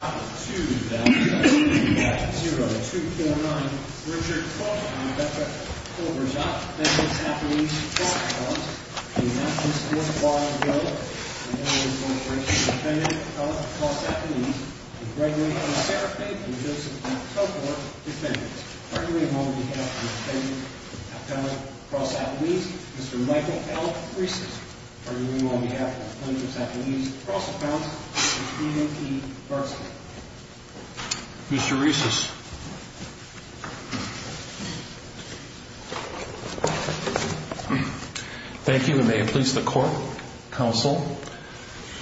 2-0-0-2-0-9 Richard Cooke v. Bethlehem, Auburn-Dot, Plainfields-Athens, Cross-Counts Maxum Sports Bar & Grill & All-Inc. Defendant, Appellate, Cross-Athens & Gregory & Sarah Fain from Joseph & Co. Defendants Gregory on behalf of the Defendant, Appellate, Cross-Athens Mr. Michael L. Friesen Gregory on behalf of Plainfields-Athens, Cross-Counts Mr. D.M.P. Barksley Mr. Reesus Thank you and may it please the Court, Counsel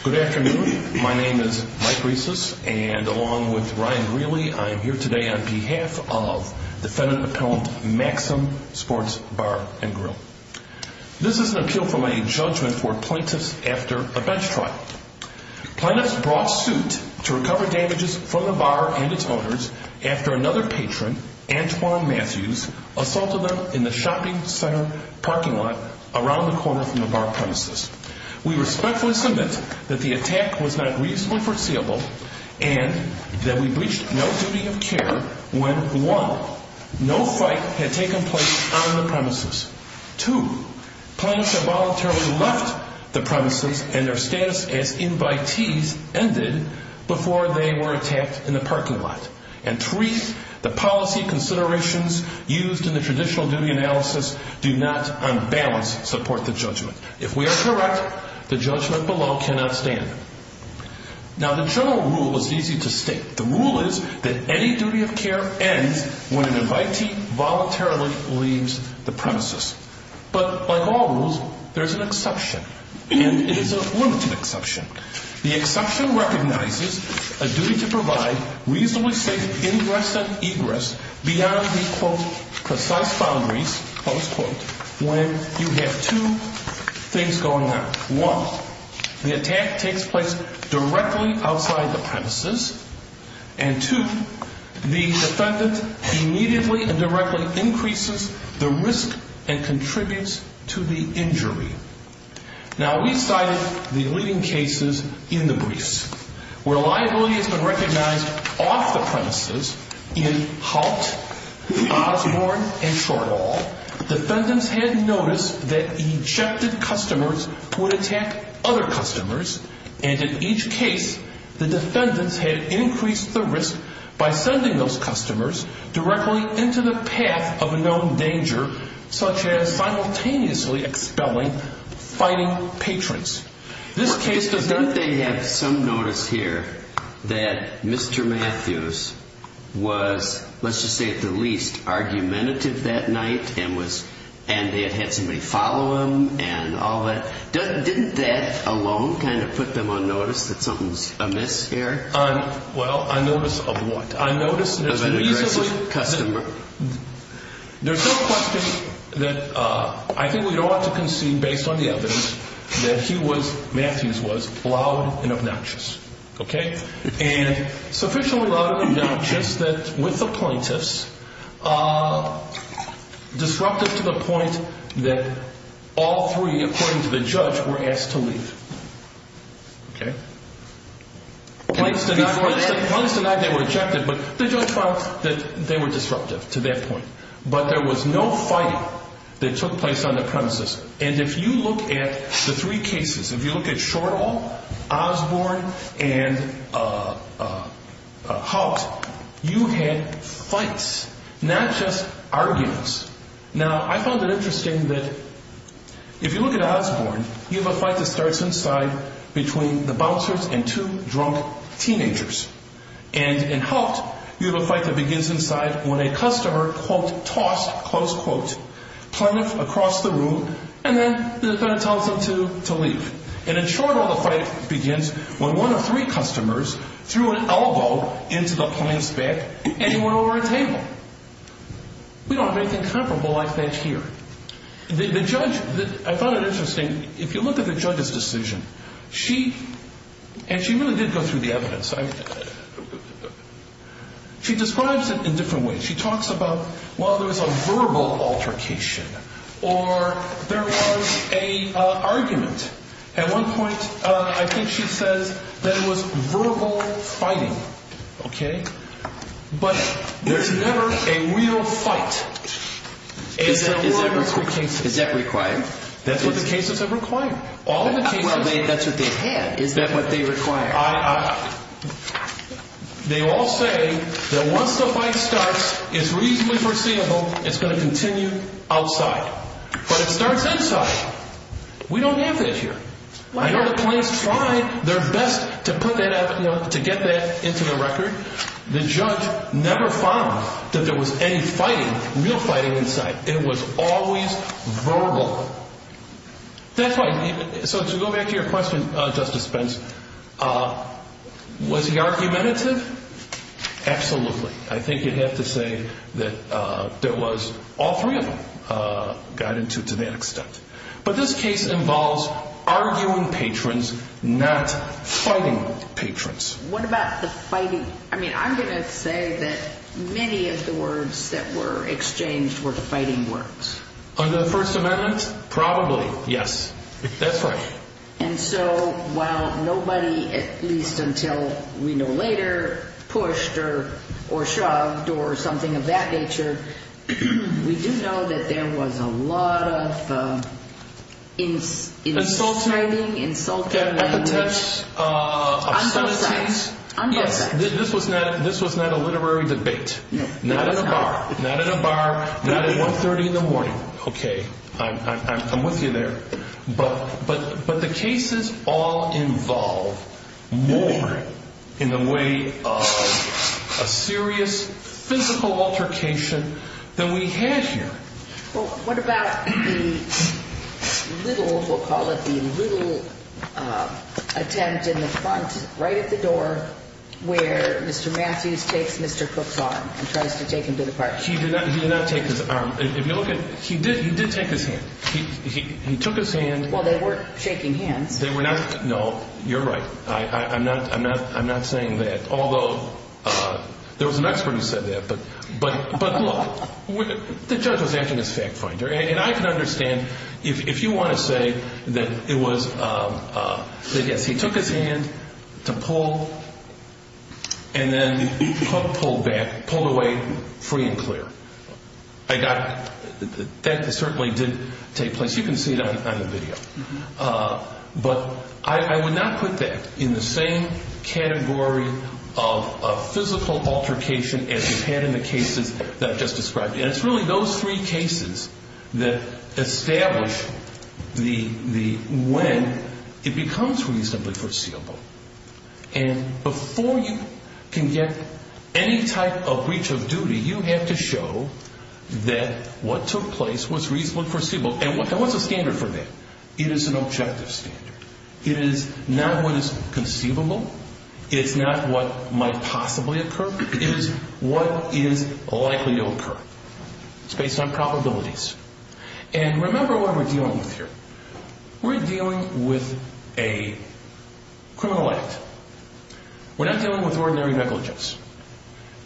Good afternoon, my name is Mike Reesus and along with Ryan Greeley, I am here today on behalf of Defendant Appellant Maxum Sports Bar & Grill This is an appeal for my judgment for plaintiffs after a bench trial Plaintiffs brought suit to recover damages from the bar and its owners after another patron, Antoine Matthews, assaulted them in the shopping center parking lot around the corner from the bar premises We respectfully submit that the attack was not reasonably foreseeable and that we breached no duty of care when 1. No fight had taken place on the premises 2. Plaintiffs have voluntarily left the premises and their status as invitees ended before they were attacked in the parking lot and 3. The policy considerations used in the traditional duty analysis do not, on balance, support the judgment If we are correct, the judgment below cannot stand Now the general rule is easy to state The rule is that any duty of care ends when an invitee voluntarily leaves the premises But by law rules, there is an exception and it is a limited exception The exception recognizes a duty to provide reasonably safe ingress and egress beyond the, quote, precise boundaries, close quote when you have two things going on 1. The attack takes place directly outside the premises and 2. The defendant immediately and directly increases the risk and contributes to the injury Now we cited the leading cases in the briefs where liability has been recognized off the premises in Halt, Osborne, and Shortall Defendants had noticed that ejected customers would attack other customers and in each case, the defendants had increased the risk by sending those customers directly into the path of a known danger such as simultaneously expelling fighting patrons Doesn't they have some notice here that Mr. Matthews was, let's just say at the least argumentative that night and they had had somebody follow him Didn't that alone kind of put them on notice that something's amiss here? Well, on notice of what? On notice of an aggressive customer There's no question that I think we ought to concede based on the evidence that he was, Matthews was loud and obnoxious and sufficiently loud and obnoxious that with the plaintiffs disruptive to the point that all three, according to the judge, were asked to leave Plaintiffs denied they were ejected but the judge found that they were disruptive to that point but there was no fighting that took place on the premises and if you look at the three cases if you look at Shortall, Osborne, and Halt you had fights, not just arguments Now, I found it interesting that if you look at Osborne, you have a fight that starts inside between the bouncers and two drunk teenagers and in Halt, you have a fight that begins inside when a customer, quote, tossed, close quote plaintiff across the room and then the plaintiff tells them to leave and in Shortall, the fight begins when one of three customers threw an elbow into the plaintiff's back and he went over a table we don't have anything comparable like that here the judge, I found it interesting if you look at the judge's decision she, and she really did go through the evidence she describes it in different ways she talks about, well there was a verbal altercation or there was a argument at one point, I think she says that it was verbal fighting, okay but there's never a real fight is that required? that's what the cases have required that's what they had is that what they required? they all say that once the fight starts it's reasonably foreseeable it's going to continue outside but it starts inside we don't have that here I know the plaintiffs try their best to get that into the record the judge never found that there was any fighting real fighting inside it was always verbal that's why, so to go back to your question Justice Spence was he argumentative? absolutely I think you'd have to say that there was, all three of them got into it to that extent but this case involves arguing patrons not fighting patrons what about the fighting? I'm going to say that many of the words that were exchanged were the fighting words under the first amendment? probably, yes that's right and so while nobody at least until we know later pushed or shoved or something of that nature we do know that there was a lot of insulting language epithets of some of these this was not a literary debate not at a bar not at 1.30 in the morning okay, I'm with you there but the cases all involve more in the way of a serious physical altercation than we have here well, what about the little, we'll call it the little attempt in the front right at the door where Mr. Matthews takes Mr. Cook's arm and tries to take him to the park he did not take his arm he did take his hand he took his hand well, they weren't shaking hands no, you're right I'm not saying that although, there was an expert who said that but look the judge was acting as fact finder and I can understand if you want to say that it was that yes, he took his hand to pull and then Cook pulled back pulled away free and clear I got that certainly didn't take place you can see it on the video but I would not put that in the same category of a physical altercation as we've had in the cases that I've just described and it's really those three cases that establish the when it becomes reasonably foreseeable and before you can get any type of breach of duty you have to show that what took place was reasonably foreseeable and what's the standard for that? it is an objective standard it is not what is conceivable it's not what might possibly occur it is what is likely to occur it's based on probabilities and remember what we're dealing with here we're dealing with a criminal act we're not dealing with ordinary negligence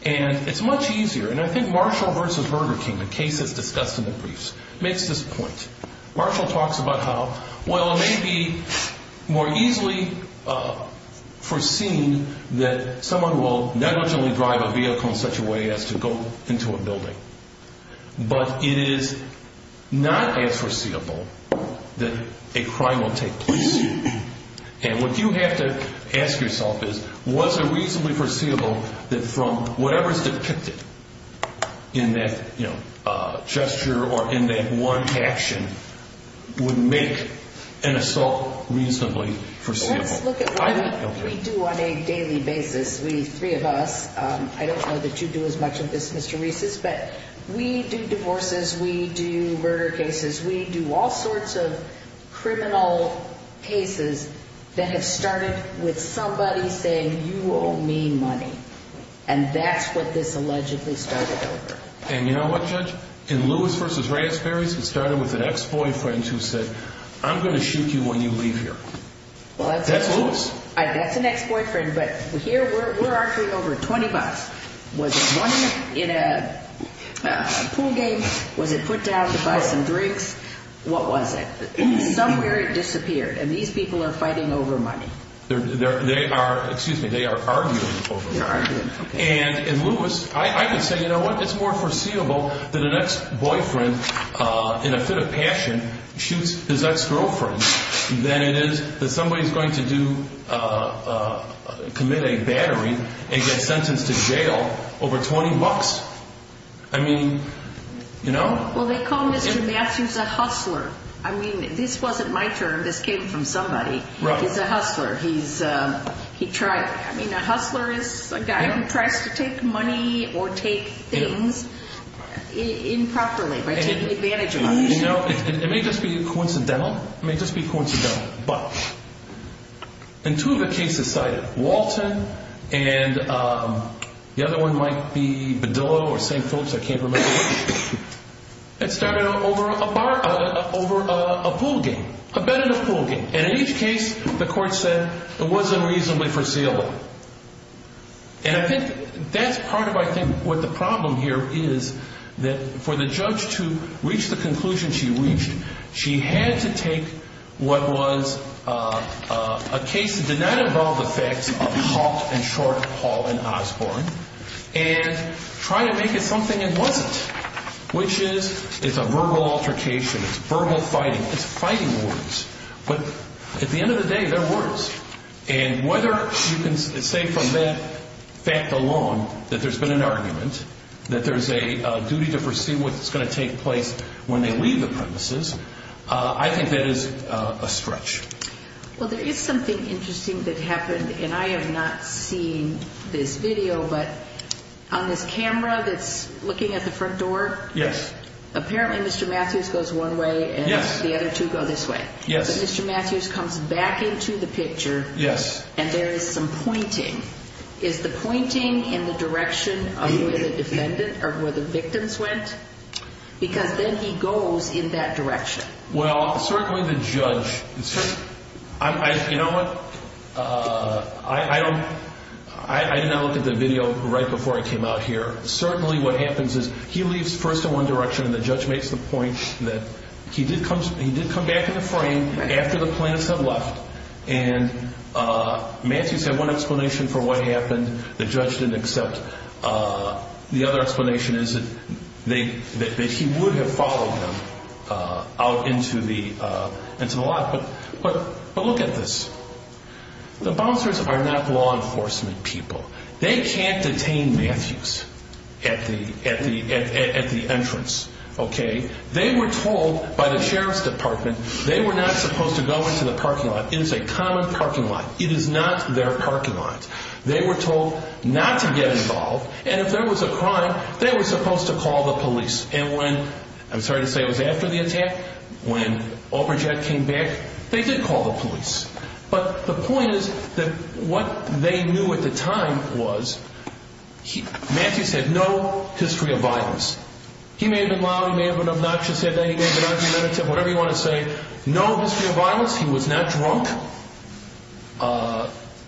and it's much easier and I think Marshall v. Burger King the case that's discussed in the briefs makes this point Marshall talks about how well it may be more easily foreseen that someone will negligently drive a vehicle in such a way as to go into a building but it is not as foreseeable that a crime will take place and what you have to ask yourself is was it reasonably foreseeable that from whatever is depicted in that gesture or in that one action would make an assault reasonably foreseeable let's look at what we do on a daily basis the three of us I don't know that you do as much of this Mr. Reeses but we do divorces we do murder cases we do all sorts of criminal cases that have started with somebody saying you owe me money and that's what this allegedly started over and you know what Judge in Lewis v. Raspberries it started with an ex-boyfriend who said I'm going to shoot you when you leave here that's Lewis that's an ex-boyfriend but here we're arguing over 20 bucks was it won in a pool game was it put down to buy some drinks what was it somewhere it disappeared and these people are fighting over money they are arguing over money and in Lewis I can say you know what it's more foreseeable that an ex-boyfriend in a fit of passion shoots his ex-girlfriend than it is that somebody is going to do commit a battery and get sentenced to jail over 20 bucks I mean you know well they call Mr. Matthews a hustler this wasn't my term this came from somebody he's a hustler he tries a hustler is a guy who tries to take money or take things improperly it may just be coincidental but in two of the cases cited Walton and the other one might be Bedillo or St. Phillips I can't remember it started over a bar over a pool game a bed in a pool game and in each case the court said it wasn't reasonably foreseeable and I think that's part of I think what the problem here is that for the judge to reach the conclusion she reached she had to take what was a case that did not involve the facts of Haught and Short Hall and Osborn and try to make it something it wasn't which is it's a verbal altercation it's verbal fighting it's fighting words but at the end of the day they're words and whether you can say from that fact alone that there's been an argument that there's a duty to foresee what's going to take place when they leave the premises I think that is a stretch well there is something interesting that happened and I have not seen this video but on this camera that's looking at the front door yes apparently Mr. Matthews goes one way and the other two go this way so Mr. Matthews comes back into the picture and there is some pointing is the pointing in the direction of where the victims went because then he goes in that direction well certainly the judge you know what I don't I did not look at the video right before I came out here certainly what happens is he leaves first in one direction and the judge makes the point that he did come back in the frame after the plants had left and Matthews had one explanation for what happened the judge didn't accept the other explanation is that he would have followed them out into the into the lot but look at this the bouncers are not law enforcement people they can't detain Matthews at the entrance they were told by the sheriff's department they were not supposed to go into the parking lot it is a common parking lot it is not their parking lot they were told not to get involved and if there was a crime they were supposed to call the police I'm sorry to say it was after the attack when Aubrey Jett came back they did call the police but the point is that what they knew at the time was Matthews had no history of violence he may have been loud he may have been obnoxious he may have been argumentative no history of violence he was not drunk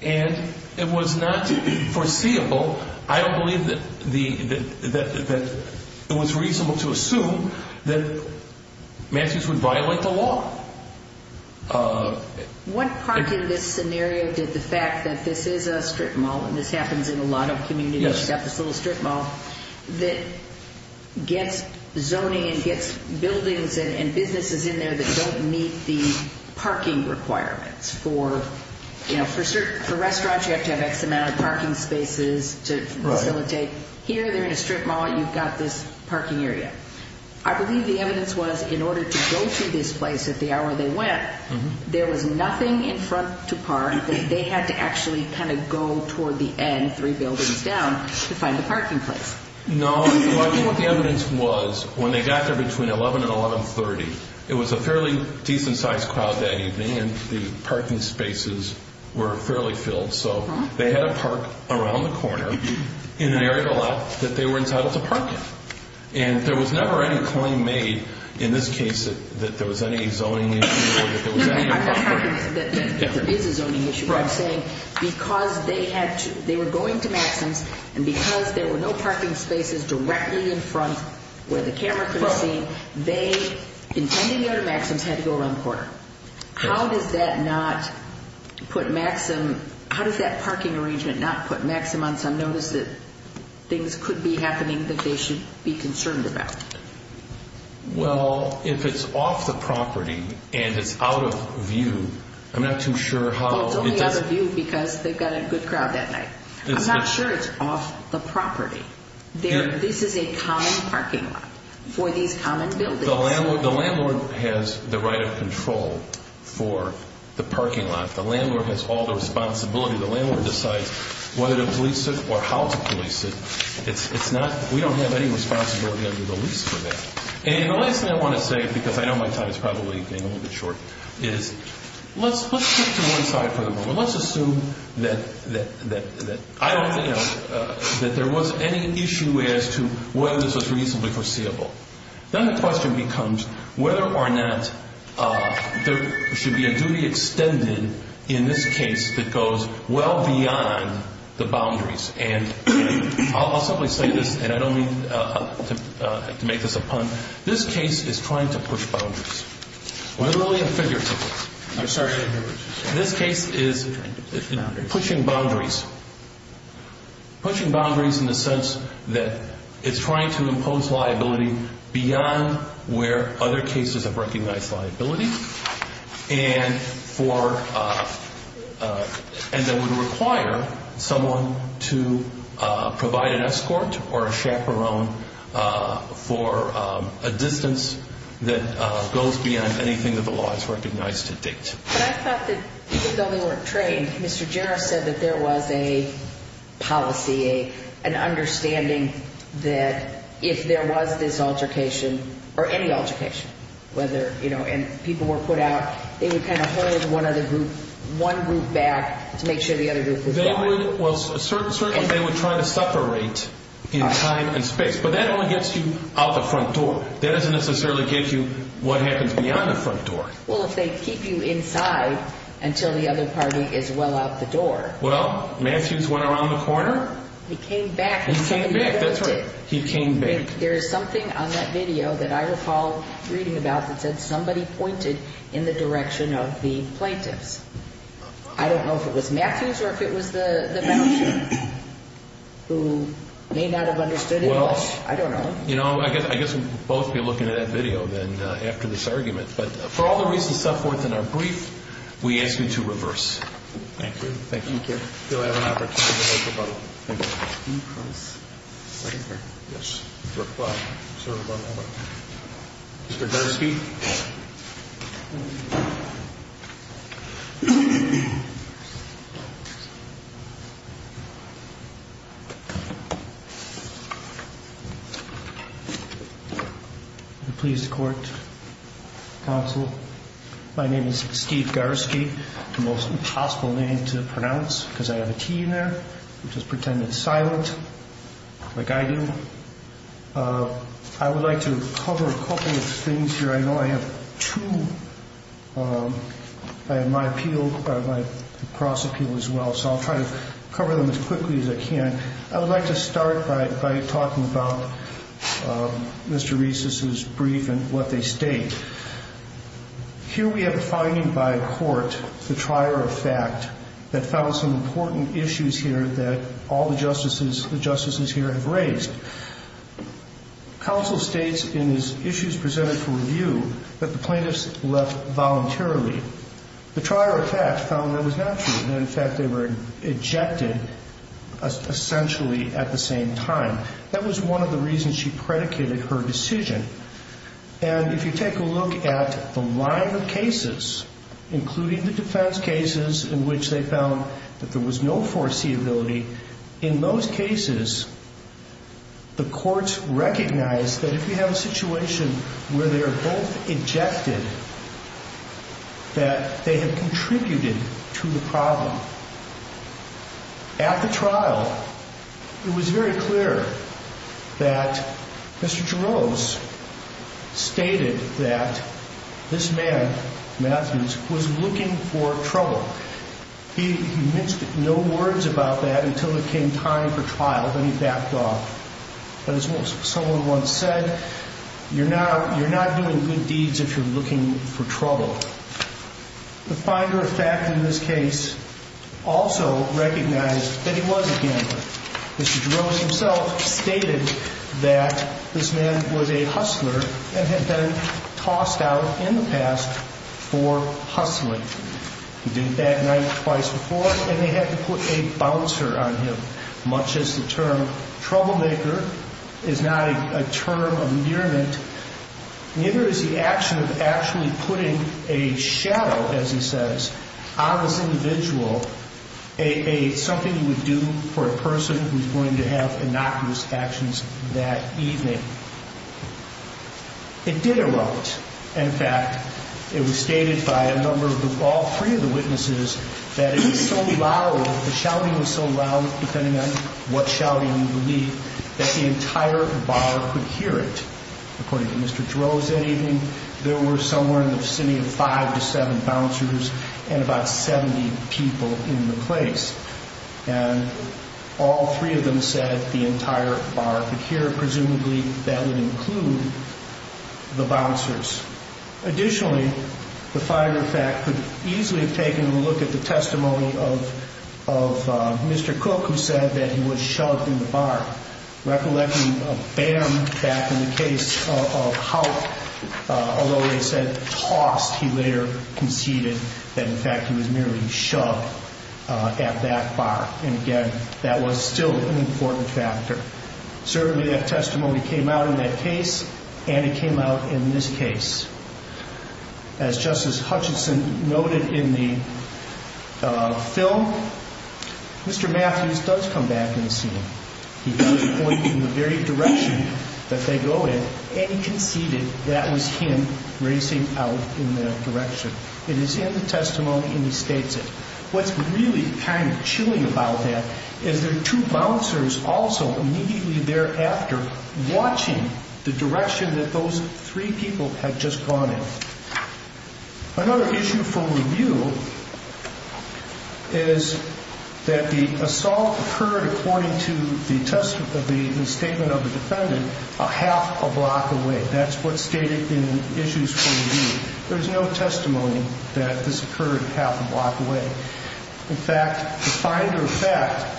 and it was not foreseeable I don't believe that it was reasonable to assume that Matthews would violate the law what part in this scenario did the fact that this is a strip mall and this happens in a lot of places that gets zoning and gets buildings and businesses in there that don't meet the parking requirements for restaurants you have to have X amount of parking spaces to facilitate here they're in a strip mall and you've got this parking area I believe the evidence was in order to go to this place at the hour they went there was nothing in front to park that they had to actually kind of go toward the end, three buildings down to find the parking place no I think what the evidence was when they got there between 11 and 11.30 it was a fairly decent sized crowd that evening and the parking spaces were fairly filled so they had a park around the corner in an area that they were entitled to park in and there was never any claim made in this case that there was any zoning issue I'm not talking that there is a zoning issue I'm saying because they had they were going to Maxim's and because there were no parking spaces directly in front where the camera could have seen, they intended to go to Maxim's had to go around the corner how does that not put Maxim how does that parking arrangement not put Maxim on some notice that things could be happening that they should be concerned about well if it's off the property and it's out of view I'm not too sure how it's only out of view because they've got a good crowd that night I'm not sure it's off the property this is a common parking lot for these common buildings the landlord has the right of control for the parking lot the landlord has all the responsibility the landlord decides whether to police it or how to police it it's not, we don't have any responsibility under the lease for that and the last thing I want to say because I know my time is probably getting a little bit short is let's stick to one side for the moment, let's assume that I don't know that there was any issue as to whether this was reasonably foreseeable then the question becomes whether or not there should be a duty extended in this case that goes well beyond the boundaries and I'll simply say this and I don't mean to make this a pun, this case is trying to push boundaries I'm sorry this case is pushing boundaries pushing boundaries in the sense that it's trying to impose liability beyond where other cases have recognized liability and for and that would require someone to provide an escort or a chaperone for a distance that goes beyond anything that the law has recognized to date. But I thought that even though they weren't trained, Mr. Jarrett said that there was a policy, an understanding that if there was this altercation or any altercation, whether and people were put out, they would kind of hold one group back to make sure the other group was They would, well certainly they would try to separate in time and space, but that only gets you out the front door. That doesn't necessarily get you what happens beyond the front door. Well if they keep you inside until the other party is well out the door. Well, Matthews went around the corner. He came back. He came back, that's right. He came back. There is something on that video that I recall reading about that said somebody pointed in the direction of the plaintiffs. I don't know if it was Matthews or if it was the the bailiff who may not have understood it. I don't know. You know, I guess we would both be looking at that video then after this argument, but for all the reasons set forth in our brief, we ask you to reverse. Thank you. Thank you. Thank you. Yes. Mr. Gursky. Pleased court counsel. My name is Steve Gursky, the most impossible name to pronounce because I have a T in there. Just pretend it's silent like I do. I would like to cover a couple of things here. I know I have two. I have my appeal, my cross appeal as well, so I'll try to cover them both. I'll try to cover them as quickly as I can. I would like to start by talking about Mr. Reiss's brief and what they state. Here we have a finding by court, the trier of fact, that found some important issues here that all the justices here have raised. Counsel states in his issues presented for review that the plaintiffs left voluntarily. The trier of fact found that that was not true. In fact, they were ejected essentially at the same time. That was one of the reasons she predicated her decision. If you take a look at the line of cases, including the defense cases in which they found that there was no foreseeability, in those cases the courts recognized that if you have a situation where they are both ejected, that they have contributed to the problem. At the trial, it was very clear that Mr. Jarosz stated that this man, Matthews, was looking for trouble. He mentioned no words about that until it came time for trial, then he backed off. As someone once said, you're not doing good deeds if you're looking for trouble. The finder of fact in this case also recognized that he was a gambler. Mr. Jarosz himself stated that this man was a hustler and had been tossed out in the past for hustling. He did it that night, twice before, and they had to put a bouncer on him. Much as the term troublemaker is not a term of use, it was the action of actually putting a shadow, as he says, on this individual, something he would do for a person who was going to have innocuous actions that evening. It did erupt. In fact, it was stated by all three of the witnesses that it was so loud, the shouting was so loud, depending on what shouting you believe, that the entire bar could hear it. According to Mr. Jarosz that evening, there were somewhere in the vicinity of five to seven bouncers and about 70 people in the place. All three of them said the entire bar could hear it. Presumably, that would include the bouncers. Additionally, the finder of fact could easily have taken a look at the testimony of Mr. Cook, who said that he was shoved in the bar, recollecting a bam back in the case of how although they said tossed, he later conceded that in fact he was merely shoved at that bar. Again, that was still an important factor. Certainly, that testimony came out in that case and it came out in this case. As Justice Hutchinson noted in the film, Mr. Matthews does come back and see him. He does point in the very direction that they go in and he conceded that was him racing out in that direction. It is in the testimony and he states it. What's really kind of chilling about that is there are two bouncers also immediately thereafter watching the direction that those three people had just gone in. Another issue for review is that the assault occurred according to the statement of the defendant half a block away. That's what stated in Issues 40B. There's no testimony that this occurred half a block away. In fact, the finder of fact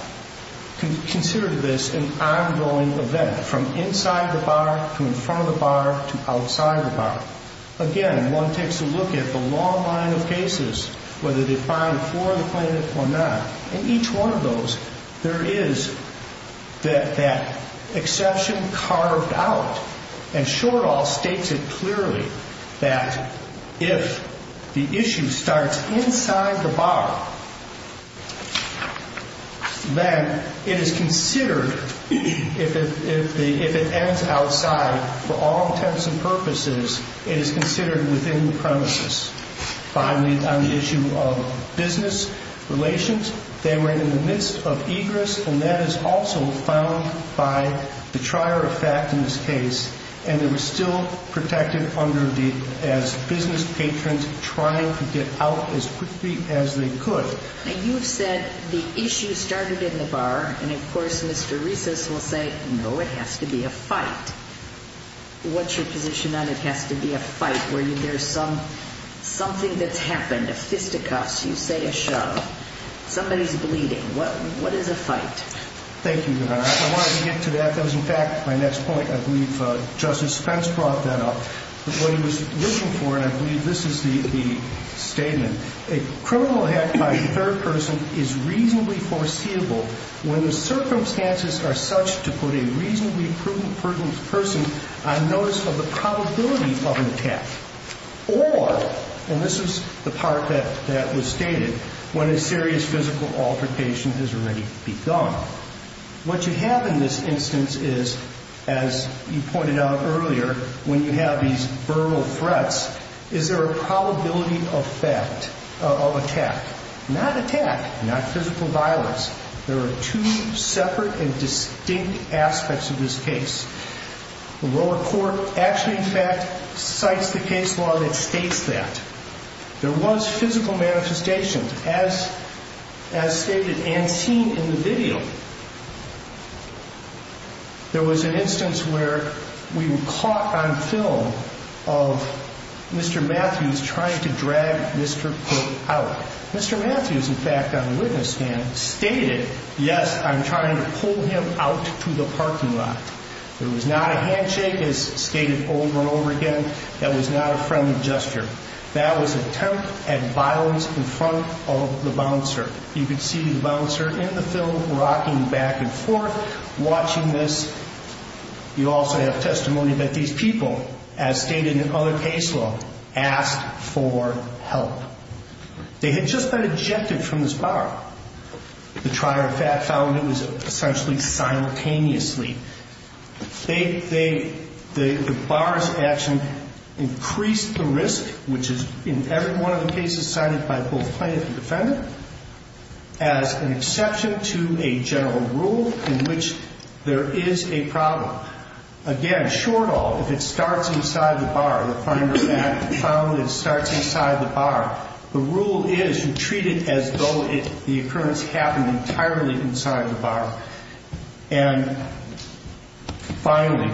considered this an ongoing event from inside the bar to in front of the bar to outside the bar. Again, one takes a look at the long line of cases, whether they find for the plaintiff or not. In each one of those, there is that exception carved out and Shortall states it clearly that if the issue starts inside the bar, then it is considered if it ends outside for all intents and purposes, it is considered within the premises. Finally, on the issue of business relations, they were in the midst of egress and that is also found by the trier of fact in this case, and they were still protected as business patrons trying to get out as quickly as they could. You've said the issue started in the bar, and of course Mr. Recess will say, no, it has to be a fight. What's your position on it has to be a something that's happened, a fisticuffs, you say a shove, somebody's bleeding, what is a fight? Thank you, Your Honor. I wanted to get to that. That was in fact my next point. I believe Justice Spence brought that up. What he was looking for, and I believe this is the statement, a criminal act by a third person is reasonably foreseeable when the circumstances are such to put a reasonably proven person on notice of the probability of an attack or, and this is the part that was stated, when a serious physical altercation has already begun. What you have in this instance is, as you pointed out earlier, when you have these verbal threats, is there a probability of fact, of attack? Not attack, not physical violence. There are two separate and distinct aspects of this case. The case law that states that. There was physical manifestation as stated and seen in the video. There was an instance where we were caught on film of Mr. Matthews trying to drag Mr. Pope out. Mr. Matthews, in fact, on witness stand, stated yes, I'm trying to pull him out to the parking lot. There was not a handshake, as stated over and over again, that was not a friendly gesture. That was attempt at violence in front of the bouncer. You can see the bouncer in the film rocking back and forth, watching this. You also have testimony that these people, as stated in other case law, asked for help. They had just been ejected from this bar. The trial found it was essentially simultaneously. They, the bar's action increased the risk, which is in every one of the cases cited by both plaintiff and defendant, as an exception to a general rule in which there is a problem. Again, short all, if it starts inside the bar, the finder found it starts inside the bar. The rule is you treat it as though the occurrence happened entirely inside the bar. And, finally,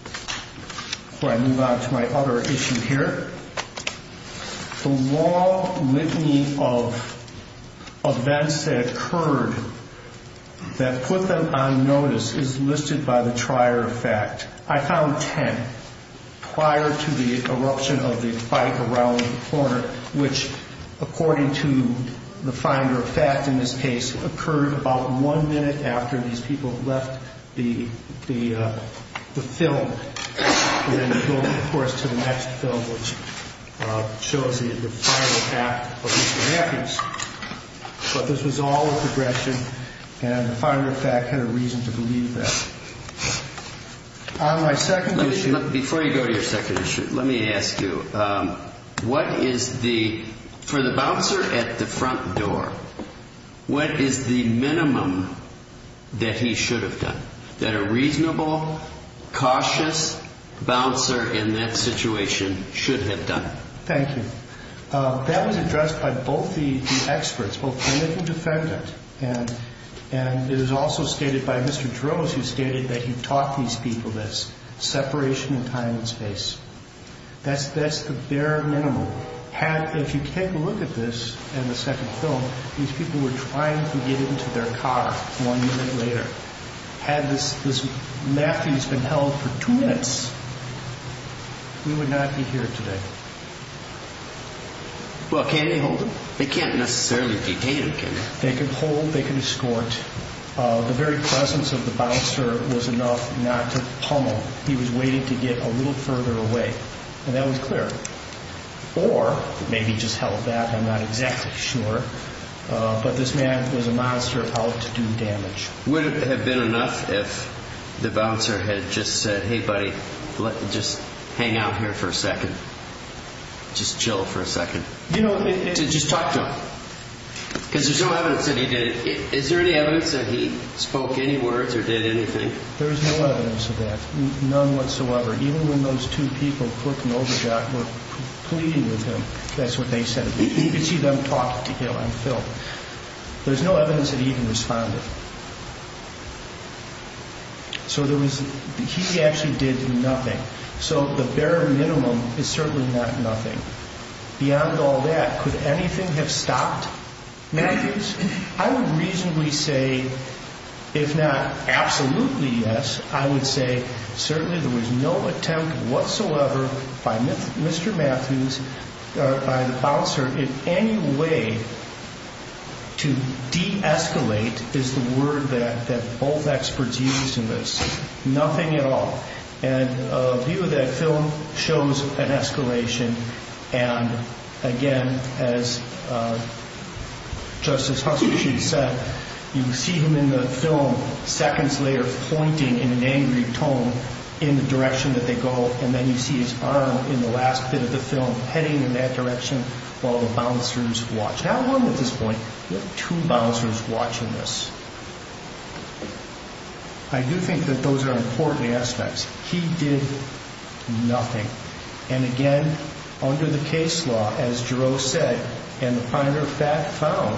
before I move on to my other issue here, the law litany of events that occurred that put them on notice is listed by the trier of fact. I found eruption of the fight around the corner, which, according to the finder of fact in this case, occurred about one minute after these people left the film. And then they go, of course, to the next film, which shows the final act of Mr. Matthews. But this was all a progression and the finder of fact had a reason to believe that. On my second issue Before you go to your second issue, let me ask you, what is the, for the bouncer at the front door, what is the minimum that he should have done? That a reasonable, cautious bouncer in that situation should have done? Thank you. That was addressed by both the experts, both defendant and defendant. And it is also stated by Mr. Droz who stated that he taught these people this, separation in time and space. That's the bare minimum. Had, if you take a look at this in the second film, these people were trying to get into their car one minute later. Had this Matthews been held for two minutes, we would not be here today. Well, can they hold him? They can't necessarily detain him, can they? They can hold, they can escort. The very presence of the bouncer was enough not to pummel. He was waiting to get a little further away. And that was clear. Or, maybe he just held that, I'm not exactly sure. But this man was a monster of health to do damage. Would it have been enough if the bouncer had just said, hey buddy, just hang out here for a second. Just chill for a second. You know, just talk to him. Because there's no evidence that he did it. Is there any evidence that he spoke any words or did anything? There is no evidence of that. None of the people who were working over there were pleading with him. That's what they said. You can see them talking to him. There's no evidence that he even responded. So there was, he actually did nothing. So the bare minimum is certainly not nothing. Beyond all that, could anything have stopped Matthews? I would reasonably say if not absolutely yes, I would say certainly there was no attempt whatsoever by Mr. Matthews or by the bouncer in any way to de-escalate is the word that both experts used in this. Nothing at all. And a view of that film shows an escalation and again as Justice Huckabee said, you see him in the film seconds later always pointing in an angry tone in the direction that they go and then you see his arm in the last bit of the film heading in that direction while the bouncers watch. Not one at this point but two bouncers watching this. I do think that those are important aspects. He did nothing. And again, under the case law, as Jerome said and the primary fact found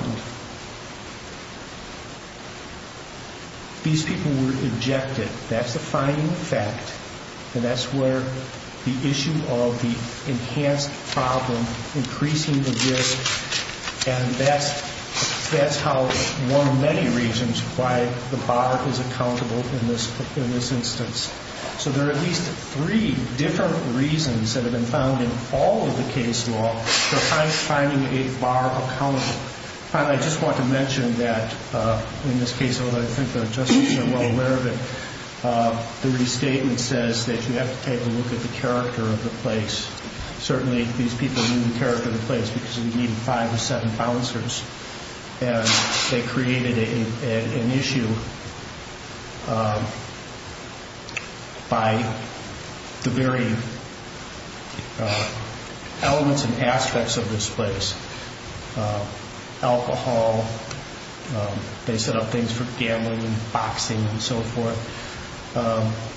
these people were ejected. That's the finding of fact. And that's where the issue of the enhanced problem increasing the risk and that's how one of many reasons why the bar is accountable in this instance. So there are at least three different reasons that have been found in all of the case law for finding a bar accountable. I just want to mention that in this case although I think the justices are well aware of it the restatement says that you have to take a look at the character of the place. Certainly these people knew the character of the place because we needed five or seven bouncers and they created an issue by the very elements and aspects of this place. Alcohol they set up things for gambling and boxing and so forth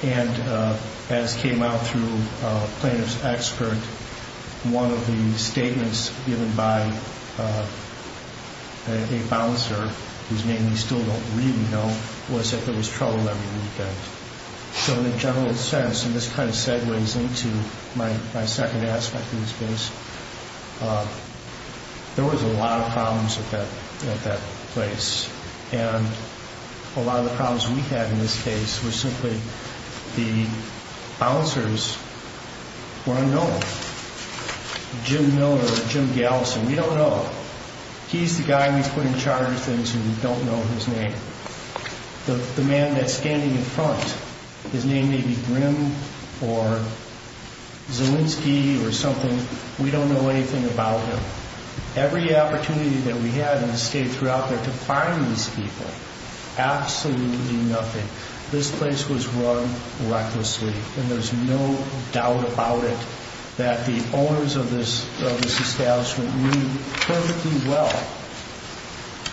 and as came out through plaintiff's expert one of the statements given by a bouncer whose name we still don't really know was that there was trouble every weekend. So in a general sense and this kind of segues into my second aspect of this case there was a lot of problems at that place and a lot of the problems we had in this case was simply the bouncers were unknown. Jim Miller or Jim Galison, we don't know. He's the guy we put in charge of things and we don't know his name. The man that's standing in front, his name may be Zielinski or something we don't know anything about him. Every opportunity that we had in the state throughout there to find these people absolutely nothing. This place was run recklessly and there's no doubt about it that the owners of this establishment knew perfectly well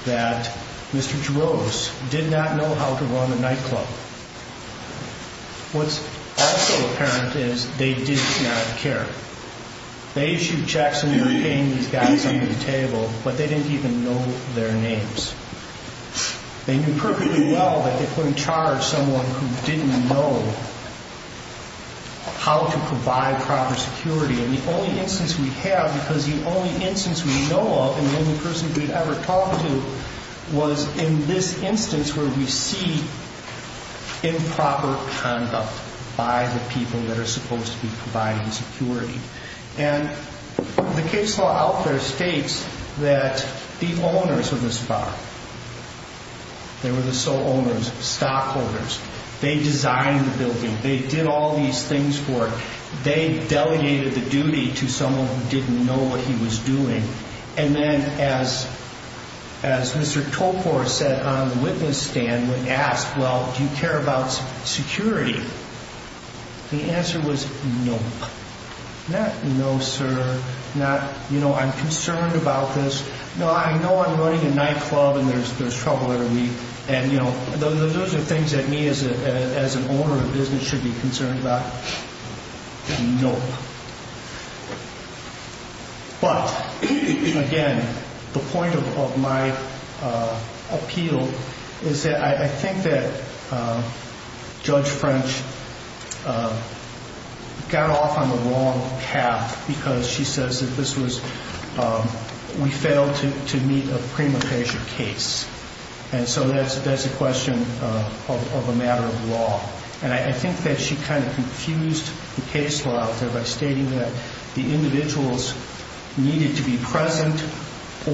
that Mr. Jarosz did not know how to run a nightclub. What's also apparent is they did not care. They issued checks and were paying these guys under the table but they didn't even know their names. They knew perfectly well that they put in charge someone who didn't know how to provide proper security and the only instance we have because the only instance we know of and the only person we've ever talked to was in this instance where we see improper conduct by the people that are supposed to be providing security. The case law out there states that the owners of this bar they were the sole owners stockholders, they designed the building, they did all these things for it, they delegated the duty to someone who didn't know what he was doing and then as Mr. Tokor said on the witness stand when asked well do you care about security? The answer was no. Not no sir not you know I'm concerned about this, no I know I'm running a nightclub and there's trouble every week and you know those are things that me as an owner of a business should be concerned about. Nope. But again the point of my appeal is that I think that Judge French got off on the wrong path because she says that this was we failed to meet a prima facie case and so that's a question of a matter of law and I think that she kind of confused the case law out there by stating that the individuals needed to be present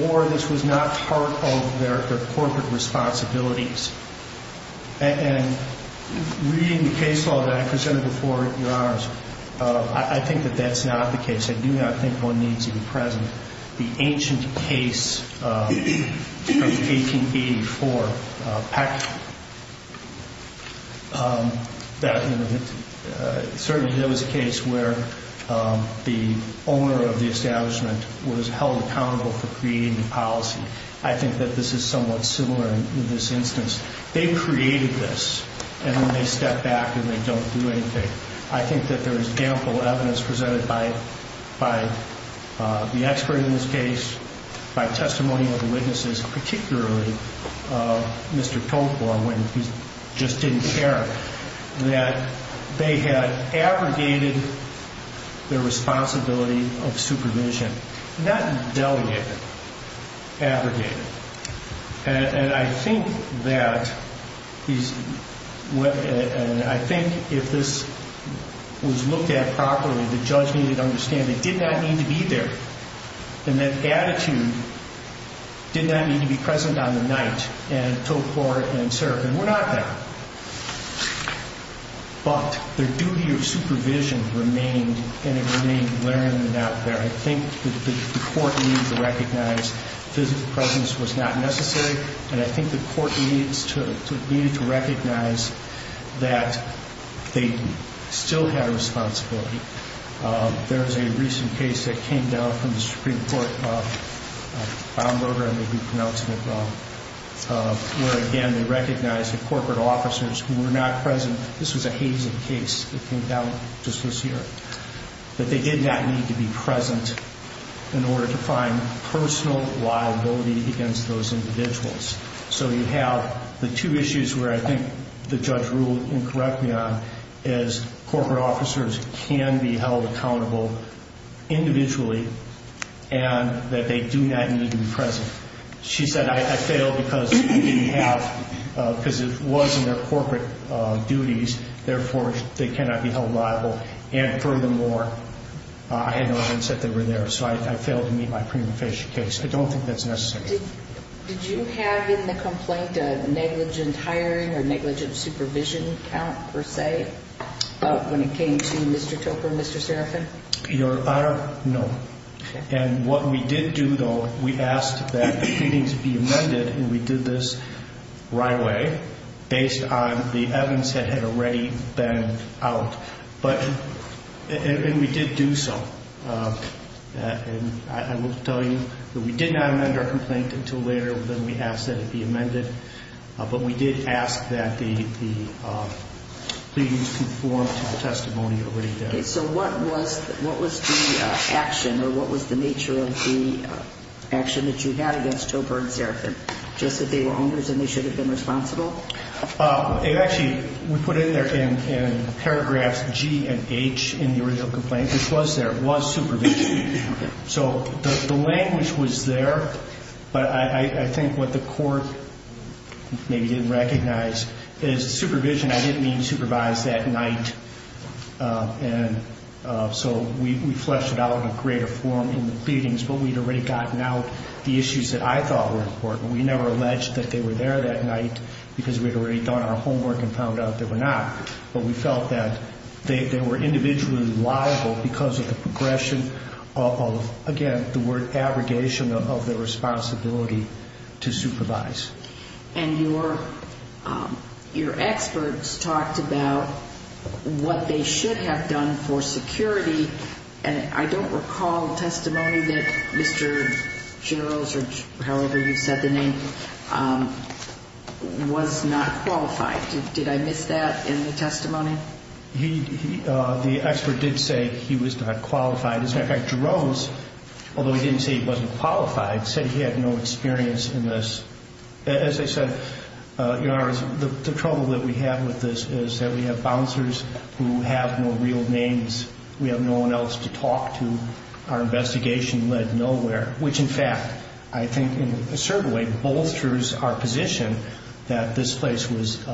or this was not part of their corporate responsibilities and reading the case law that I presented before your honors I think that that's not the case I do not think one needs to be present the ancient case of 1884 PEC that you know certainly there was a case where the owner of the establishment was held accountable for creating the policy. I think that this is somewhat similar in this instance they created this and then they step back and they don't do anything I think that there is ample evidence presented by the expert in this case by testimony of the witnesses particularly Mr. Tocla when he just didn't care that they had abrogated their duty of supervision not delegated abrogated and I think that he's I think if this was looked at properly the judge needed to understand it did not need to be there and that attitude did not need to be present on the night and took court and served and were not there but their duty of supervision remained and it remained learned and out there. I think the court needed to recognize physical presence was not necessary and I think the court needed to recognize that they still had a responsibility there is a recent case that came down from the Supreme Court Brown Burger where again they recognized the corporate officers who were not present. This was a last year. That they did not need to be present in order to find personal liability against those individuals so you have the two issues where I think the judge ruled and correct me on is corporate officers can be held accountable individually and that they do not need to be present. She said I failed because it wasn't their corporate duties therefore they cannot be held liable and furthermore I had no evidence that they were there so I failed to meet my prima facie case I don't think that's necessary. Did you have in the complaint a negligent hiring or negligent supervision count per se when it came to Mr. Topol and Mr. Serafin? Your Honor no. And what we did do though, we asked that the proceedings be amended and we did this right away based on the evidence that had already been out and we did do so and I will tell you that we did not amend our complaint until later when we asked that it be amended but we did ask that the proceedings conform to the testimony already done. So what was the action or what was the nature of the action that you had against Topol and Serafin? Just that they were responsible? It actually we put it in there in paragraphs G and H in the original complaint. It was there, it was supervision so the language was there but I think what the court maybe didn't recognize is supervision, I didn't mean supervised that night and so we fleshed it out in a greater form in the pleadings but we'd already gotten out the issues that I thought were important we never alleged that they were there that night because we'd already done our homework and found out they were not but we felt that they were individually liable because of the progression of, again, the word abrogation of their responsibility to supervise. And your experts talked about what they should have done for security and I don't recall testimony that Mr. Generals or however you said the name was not qualified did I miss that in the testimony? The expert did say he was not qualified as a matter of fact, Jerome's although he didn't say he wasn't qualified said he had no experience in this as I said the trouble that we have with this is that we have bouncers who have no real names we have no one else to talk to our investigation led nowhere which in fact, I think in a certain way bolsters our position that this place was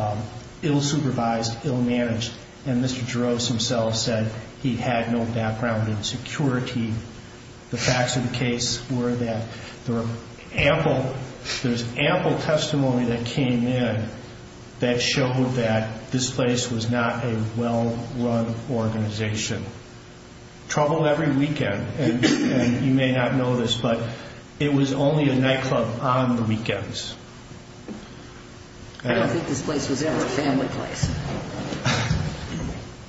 ill supervised, ill managed and Mr. Geroves himself said he had no background in security. The facts of the case were that there was ample testimony that came in that showed that this place was not a well run organization. Trouble every weekend and you may have noticed but it was only a night club on the weekends. I don't think this place was ever a family place.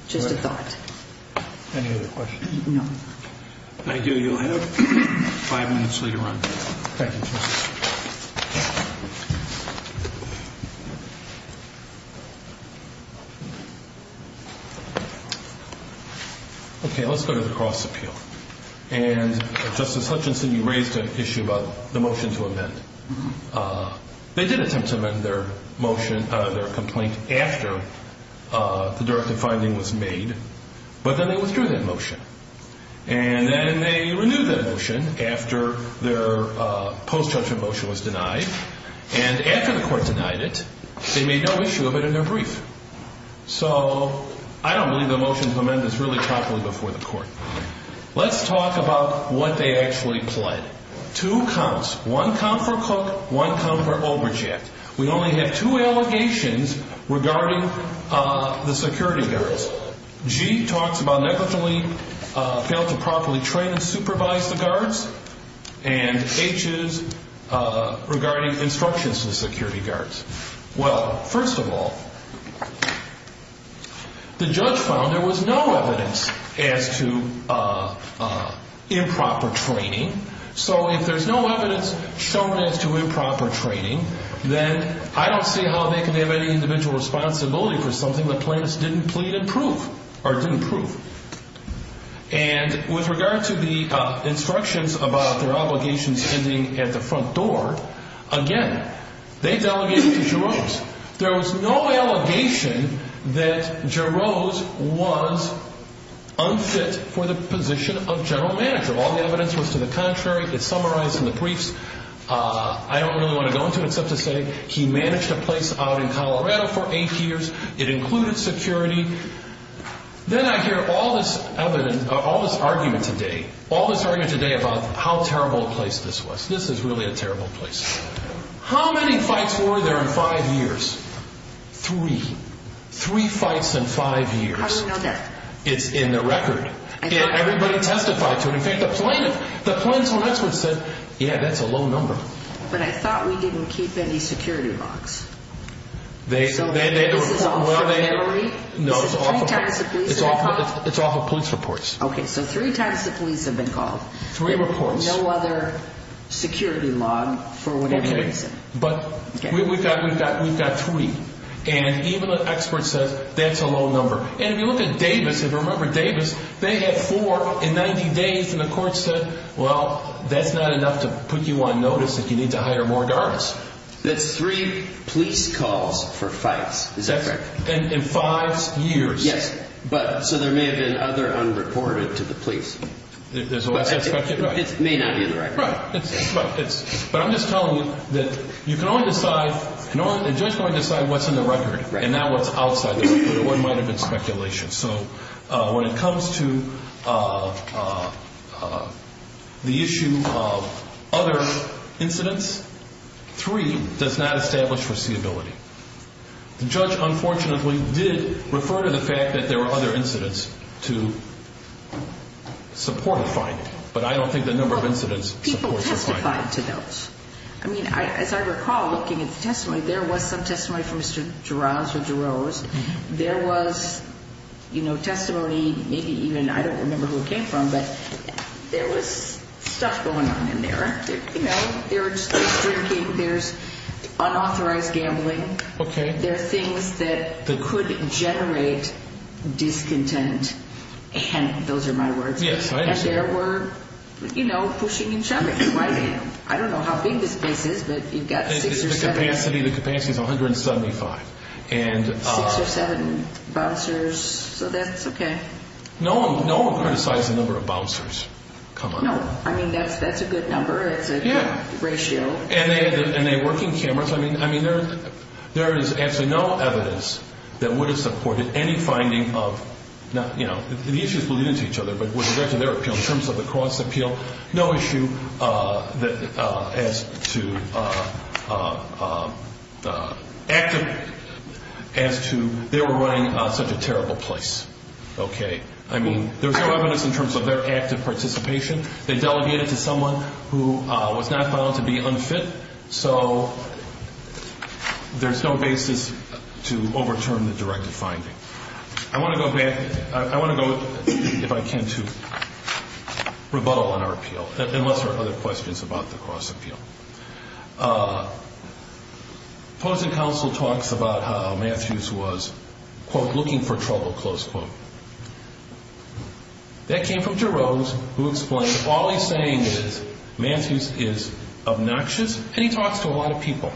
Just a thought. Any other questions? No. Thank you, you'll have five minutes until you run. Okay, let's go to the cross appeal. And Justice Hutchinson you raised an issue about the motion to amend. They did attempt to amend their motion their complaint after the directive finding was made but then they withdrew that motion and then they renewed that motion after their post judgment motion was denied and after the court denied it they made no issue of it in their brief. So I don't believe the motion to amend is really properly before the court. Let's talk about what they actually pled. Two counts. One count for Cook, one count for Olbrich yet. We only have two allegations regarding the security guards. G talks about negligently failed to properly train and supervise the guards and H is regarding instructions to the security guards. Well, first of all the judge found there was no evidence as to improper training. So if there's no evidence shown as to improper training, then I don't see how they can have any individual responsibility for something the plaintiffs didn't plead and prove or didn't prove. And with regard to the instructions about their obligations ending at the front door, again they delegated to Jerome's. There was no allegation that Jerome's was unfit for the position of general manager. All the evidence was to the contrary. It's summarized in the briefs. I don't really want to go into it except to say he managed to place out in Colorado for eight years. It included security. Then I hear all this argument today. All this argument today about how terrible a place this was. This is really a terrible place. How many fights were there in five years? Three. Three fights in five years. How do we know that? It's in the record. Everybody testified to it. In fact, the plaintiff, the plaintiff's office said, yeah, that's a low number. But I thought we didn't keep any security logs. So this is all familiarity? This is three times the police have been called? It's all from police reports. Okay, so three times the police have been called. Three reports. No other security log for whatever reason. We've got three. And even the expert says that's a low number. And if you look at Davis, if you remember Davis, they had four in 90 days and the court said well, that's not enough to put you on notice if you need to hire more guards. That's three police calls for fights. Is that correct? In five years. Yes. So there may have been other unreported to the police. It may not be in the record. Right. But I'm just telling you that you can only decide the judge can only decide what's in the record and not what's outside. It wouldn't have been speculation. So when it comes to the issue of other incidents, three does not establish foreseeability. The judge unfortunately did refer to the fact that there were other incidents to support a finding. But I don't think the number of incidents People testified to those. As I recall, looking at the testimony, there was some testimony from Mr. Jarosz. There was testimony maybe even, I don't remember who it came from, but there was stuff going on in there. There's drinking, there's unauthorized gambling. There's things that could generate discontent. And those are my words. And there were, you know, pushing and shoving. I don't know how big this place is, but you've got The capacity is 175. Six or seven bouncers, so that's okay. No one criticized the number of bouncers. I mean, that's a good number. It's a good ratio. And they work in cameras. There is absolutely no evidence that would have supported any issues related to each other, but with respect to their appeal, in terms of the cross appeal, no issue as to active as to they were running such a terrible place. Okay. I mean, there's no evidence in terms of their active participation. They delegated to someone who was not found to be unfit. So there's no basis to overturn the directed finding. I want to go back I want to go, if I can, to rebuttal on our appeal. Unless there are other questions about the cross appeal. Opposing counsel talks about how Matthews was quote, looking for trouble, close quote. That came from DeRose, who explained, all he's saying is Matthews is obnoxious and he talks to a lot of people.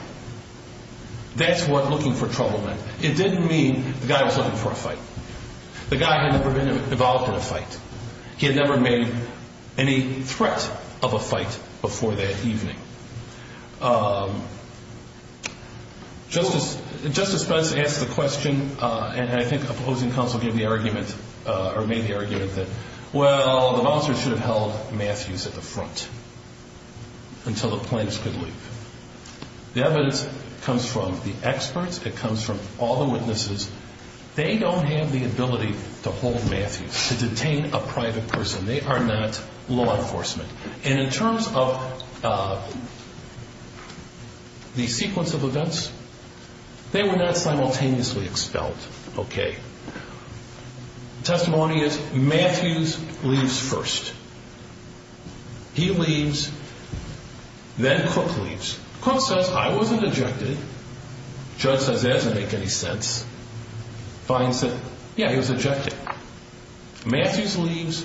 That's what looking for trouble meant. It didn't mean the guy was looking for a fight. The guy had never been involved in a fight. He had never made any threat of a fight before that evening. Justice Pence asked the question and I think opposing counsel gave the argument, or made the argument that, well, the monster should have held Matthews at the front until the plaintiffs could leave. The evidence comes from the experts. It comes from all the witnesses. They don't have the ability to hold Matthews, to detain a private person. They are not law enforcement. In terms of the sequence of events they were not simultaneously expelled. Testimony is Matthews leaves first. He leaves then Cook leaves. Cook says, I wasn't ejected. Judge says, that doesn't make any sense. Finds that, yeah, he was ejected. Matthews leaves.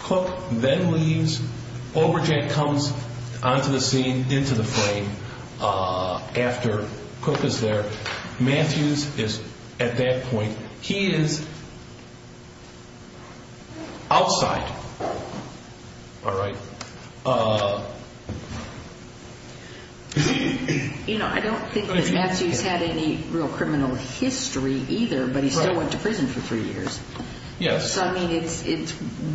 Cook then leaves. Overjack comes onto the scene, into the frame after Cook is there. Matthews is at that point, he is outside. All right. I don't think that Matthews had any real criminal history either, but he still went to prison for three years.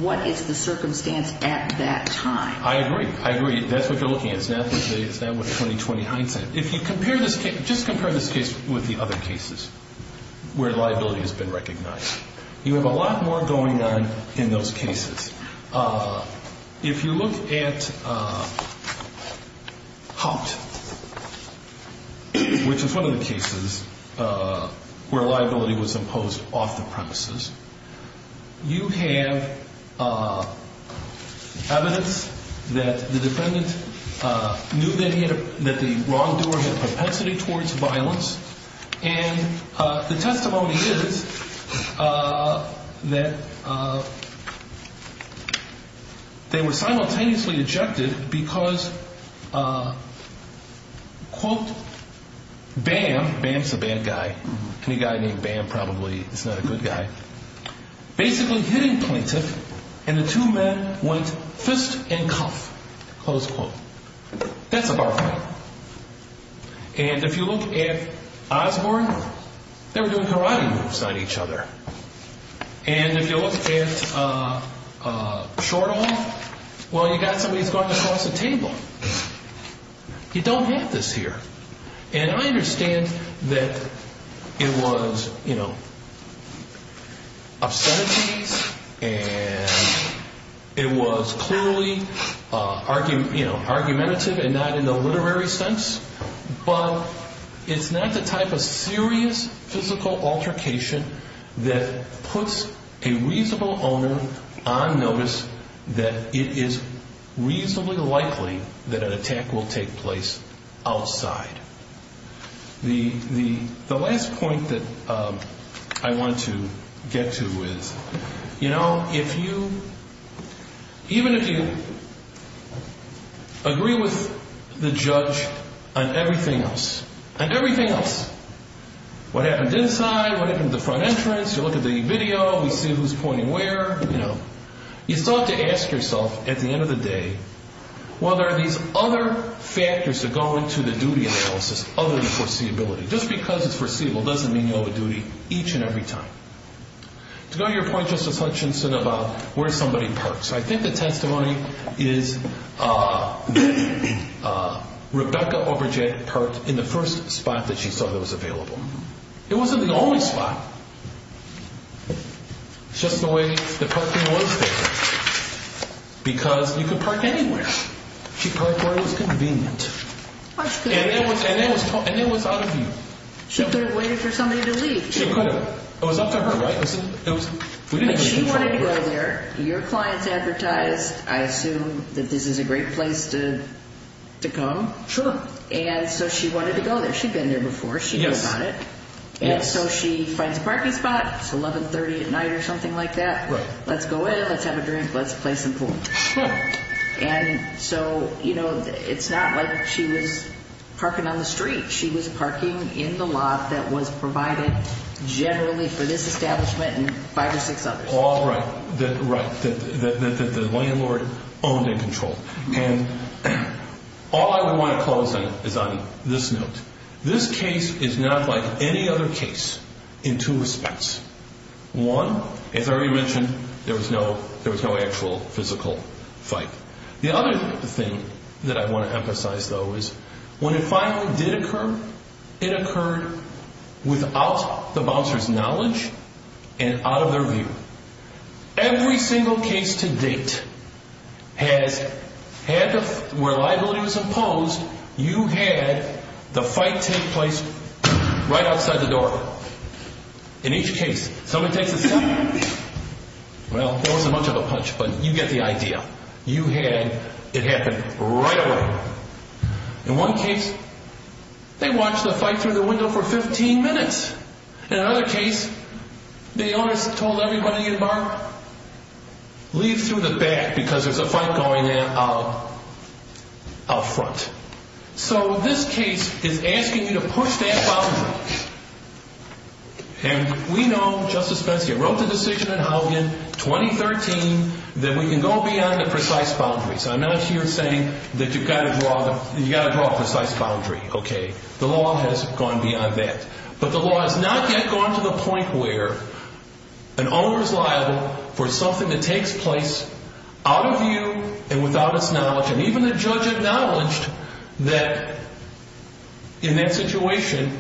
What is the circumstance at that time? I agree. That's what you're looking at. It's not what the 2020 hindsight is. Just compare this case with the other cases where liability has been recognized. You have a lot more going on in those cases. If you look at Hopped, which is one of the cases where liability was imposed off the premises. You have evidence that the defendant knew that he had that the wrongdoer had a propensity towards violence, and the testimony is that they were simultaneously ejected because quote, Bam, Bam's a bad guy. Any guy named Bam probably is not a good guy, basically hit a plaintiff and the two men went fist and cuff. That's a bar fight. If you look at Osborne, they were doing karate moves on each other. If you look at Shortall, you've got somebody who's going across the table. You don't have this here. I understand that it was obscenities, and it was clearly argumentative and not in the literary sense, but it's not the type of serious physical altercation that puts a reasonable owner on notice that it is reasonably likely that an attack will take place outside. The last point that I want to get to is if you even if you agree with the judge on everything else, on everything else, what happened inside, what happened outside, who's pointing where, you still have to ask yourself at the end of the day, well, there are these other factors that go into the duty analysis other than foreseeability. Just because it's foreseeable doesn't mean you owe a duty each and every time. To go to your point, Justice Hutchinson, about where somebody parks. I think the testimony is that Rebecca Overjack parked in the first spot that she saw that was available. It wasn't the only spot. It's just the way the parking was there. Because you could park anywhere. She parked where it was convenient. And it was out of view. She could have waited for somebody to leave. She could have. It was up to her, right? She wanted to go there. Your clients advertised, I assume, that this is a great place to come. Sure. And so she wanted to go there. She'd been there before. She goes on it. She finds a parking spot. It's 1130 at night or something like that. Let's go in. Let's have a drink. Let's play some pool. It's not like she was parking on the street. She was parking in the lot that was provided generally for this establishment and five or six others. All right. The landlord owned and controlled. All I would want to close on is on this note. This case is not like any other case in two respects. One, as I already mentioned, there was no actual physical fight. The other thing that I want to emphasize though is when it finally did occur, it occurred without the bouncer's knowledge and out of their view. Every single case to date has had where liability was imposed, you had the fight take place right outside the door. In each case, somebody takes a step. Well, there wasn't much of a punch, but you get the idea. You had it happen right away. In one case, they watched the fight through the window for 15 minutes. In another case, the owner told everybody in the bar, leave through the back because there's a fight going on out front. This case is asking you to push that boundary. We know, Justice Spence, you wrote the decision in 2013 that we can go beyond the precise boundaries. I'm not here saying that you've got to draw a precise boundary. The law has gone beyond that, but the law has not yet gone to the point where an owner is liable for something that takes place out of view and without its knowledge, and even the judge acknowledged that in that situation,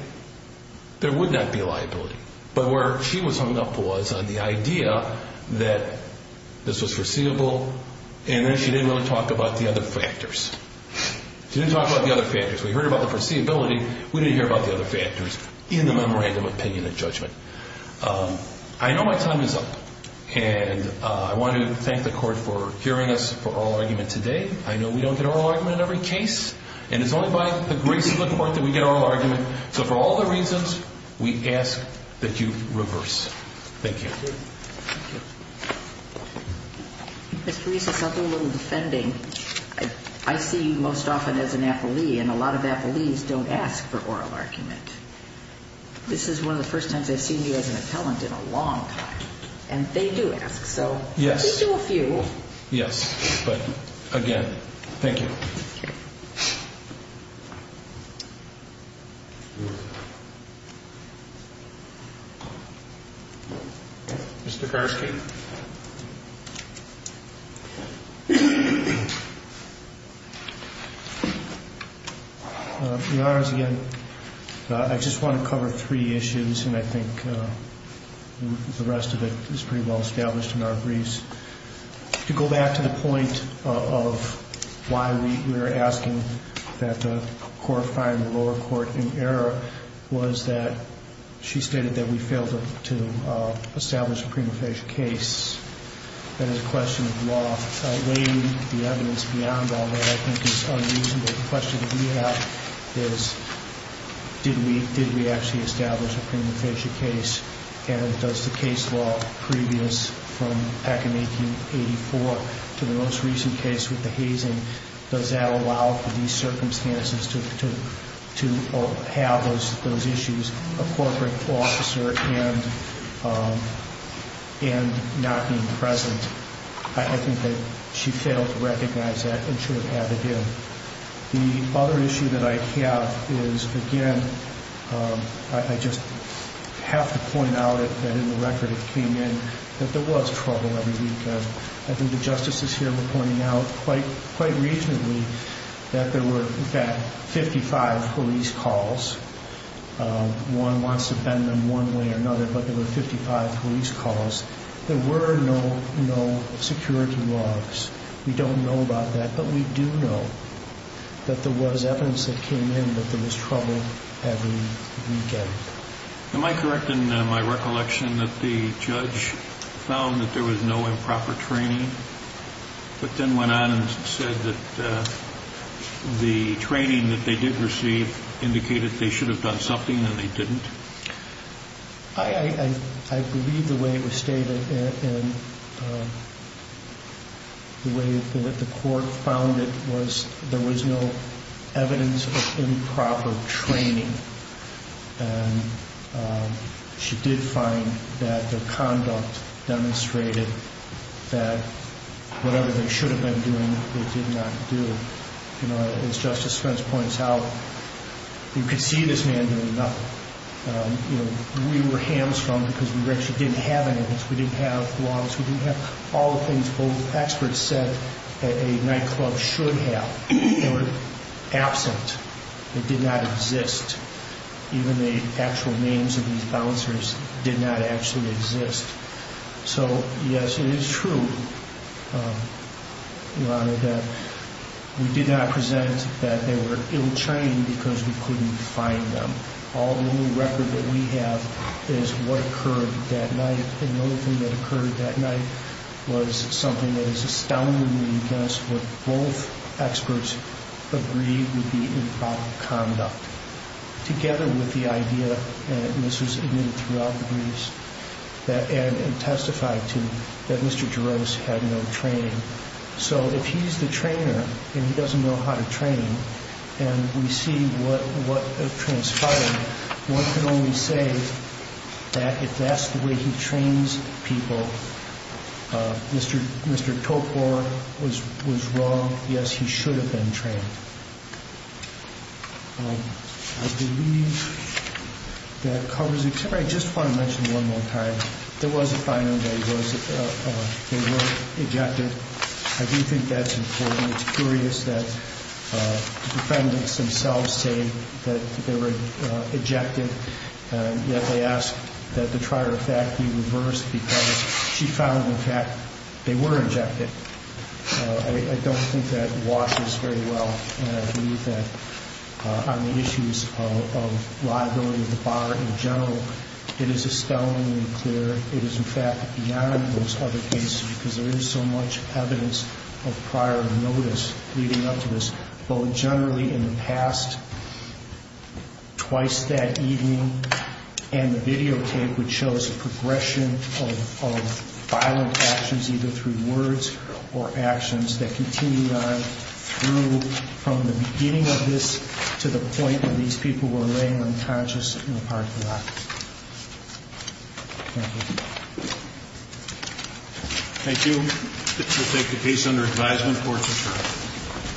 there would not be liability. But where she was hung up was on the idea that this was foreseeable, and then she didn't want to talk about the other factors. She didn't talk about the other factors. We heard about the foreseeability. We didn't hear about the other factors in the memorandum of opinion and judgment. I know my time is up, and I want to thank the Court for hearing us for oral argument today. I know we don't get oral argument in every case, and it's only by the grace of the Court that we get oral argument. So for all the reasons, we ask that you reverse. Thank you. Thank you. Ms. Teresa, something a little defending. I see you most often as an affilee, and a lot of affilees don't ask for oral argument. This is one of the first times they've seen you as an appellant in a long time. And they do ask, so please do a few. Yes. Yes, but again, thank you. Mr. Karski. Your Honor, again, I just want to cover three issues, and I think the rest of it is pretty well established in our briefs. To go back to the point of why we were asking that the court find the lower court in error was that she stated that we failed to establish a prima facie case. That is a question of law. Weighing the evidence beyond all that I think is unreasonable. The question that we have is did we actually establish a prima facie case, and does the case law previous from back in 1884 to the most recent case with the hazing, does that allow for these circumstances to have those issues, a corporate law officer and not being present. I think that she failed to recognize that and should have had to do. The other issue that I have is, again, I just have to point out that in the record it came in that there was trouble every weekend. I think the justices here were pointing out quite recently that there were in fact 55 police calls. One wants to bend them one way or another, but there were 55 police calls. There were no security laws. We don't know about that, but we do know that there was evidence that came in that there was trouble every weekend. Am I correct in my recollection that the judge found that there was no improper training, but then went on and said that the training that they did receive indicated they should have done something and they didn't? I believe the way it was stated and the way that the court found it was there was no evidence of improper training and she did find that their conduct demonstrated that whatever they should have been doing, they did not do. As Justice Spence points out, you could see this man doing nothing. We were hamstrung because we actually didn't have any of this. We didn't have laws. We didn't have all the things both experts said that a nightclub should have. They were absent. They did not exist. Even the actual names of these bouncers did not actually exist. So yes, it is true, Your Honor, that we did not present that they were ill-trained because we couldn't find them. All the new record that we have is what occurred that night and the only thing that occurred that night was something that is astoundingly against what both experts agreed would be improper conduct. Together with the idea, and this was admitted throughout the briefs, and testified to, that Mr. Jarros had no training. So if he's the trainer and he doesn't know how to train, and we see what transpired, one can only say that if that's the way he trains people, Mr. Topor was wrong. Yes, he should have been trained. I believe that covers it. I just want to mention one more time. There was a finding that they were ejected. I do think that's important. It's curious that the defendants themselves say that they were ejected, yet they ask that the prior fact be reversed because she found in fact they were ejected. I don't think that washes very well, and I believe that on the issues of liability of the bar in general, it is astoundingly clear it is in fact beyond those other cases because there is so much evidence of prior notice leading up to this. Both generally in the past, twice that evening, and the videotape which shows a progression of violent actions either through words or actions that continued on through from the beginning of this to the point that these people were laying unconscious in the parking lot. Thank you. We'll take the case under advisement for this case.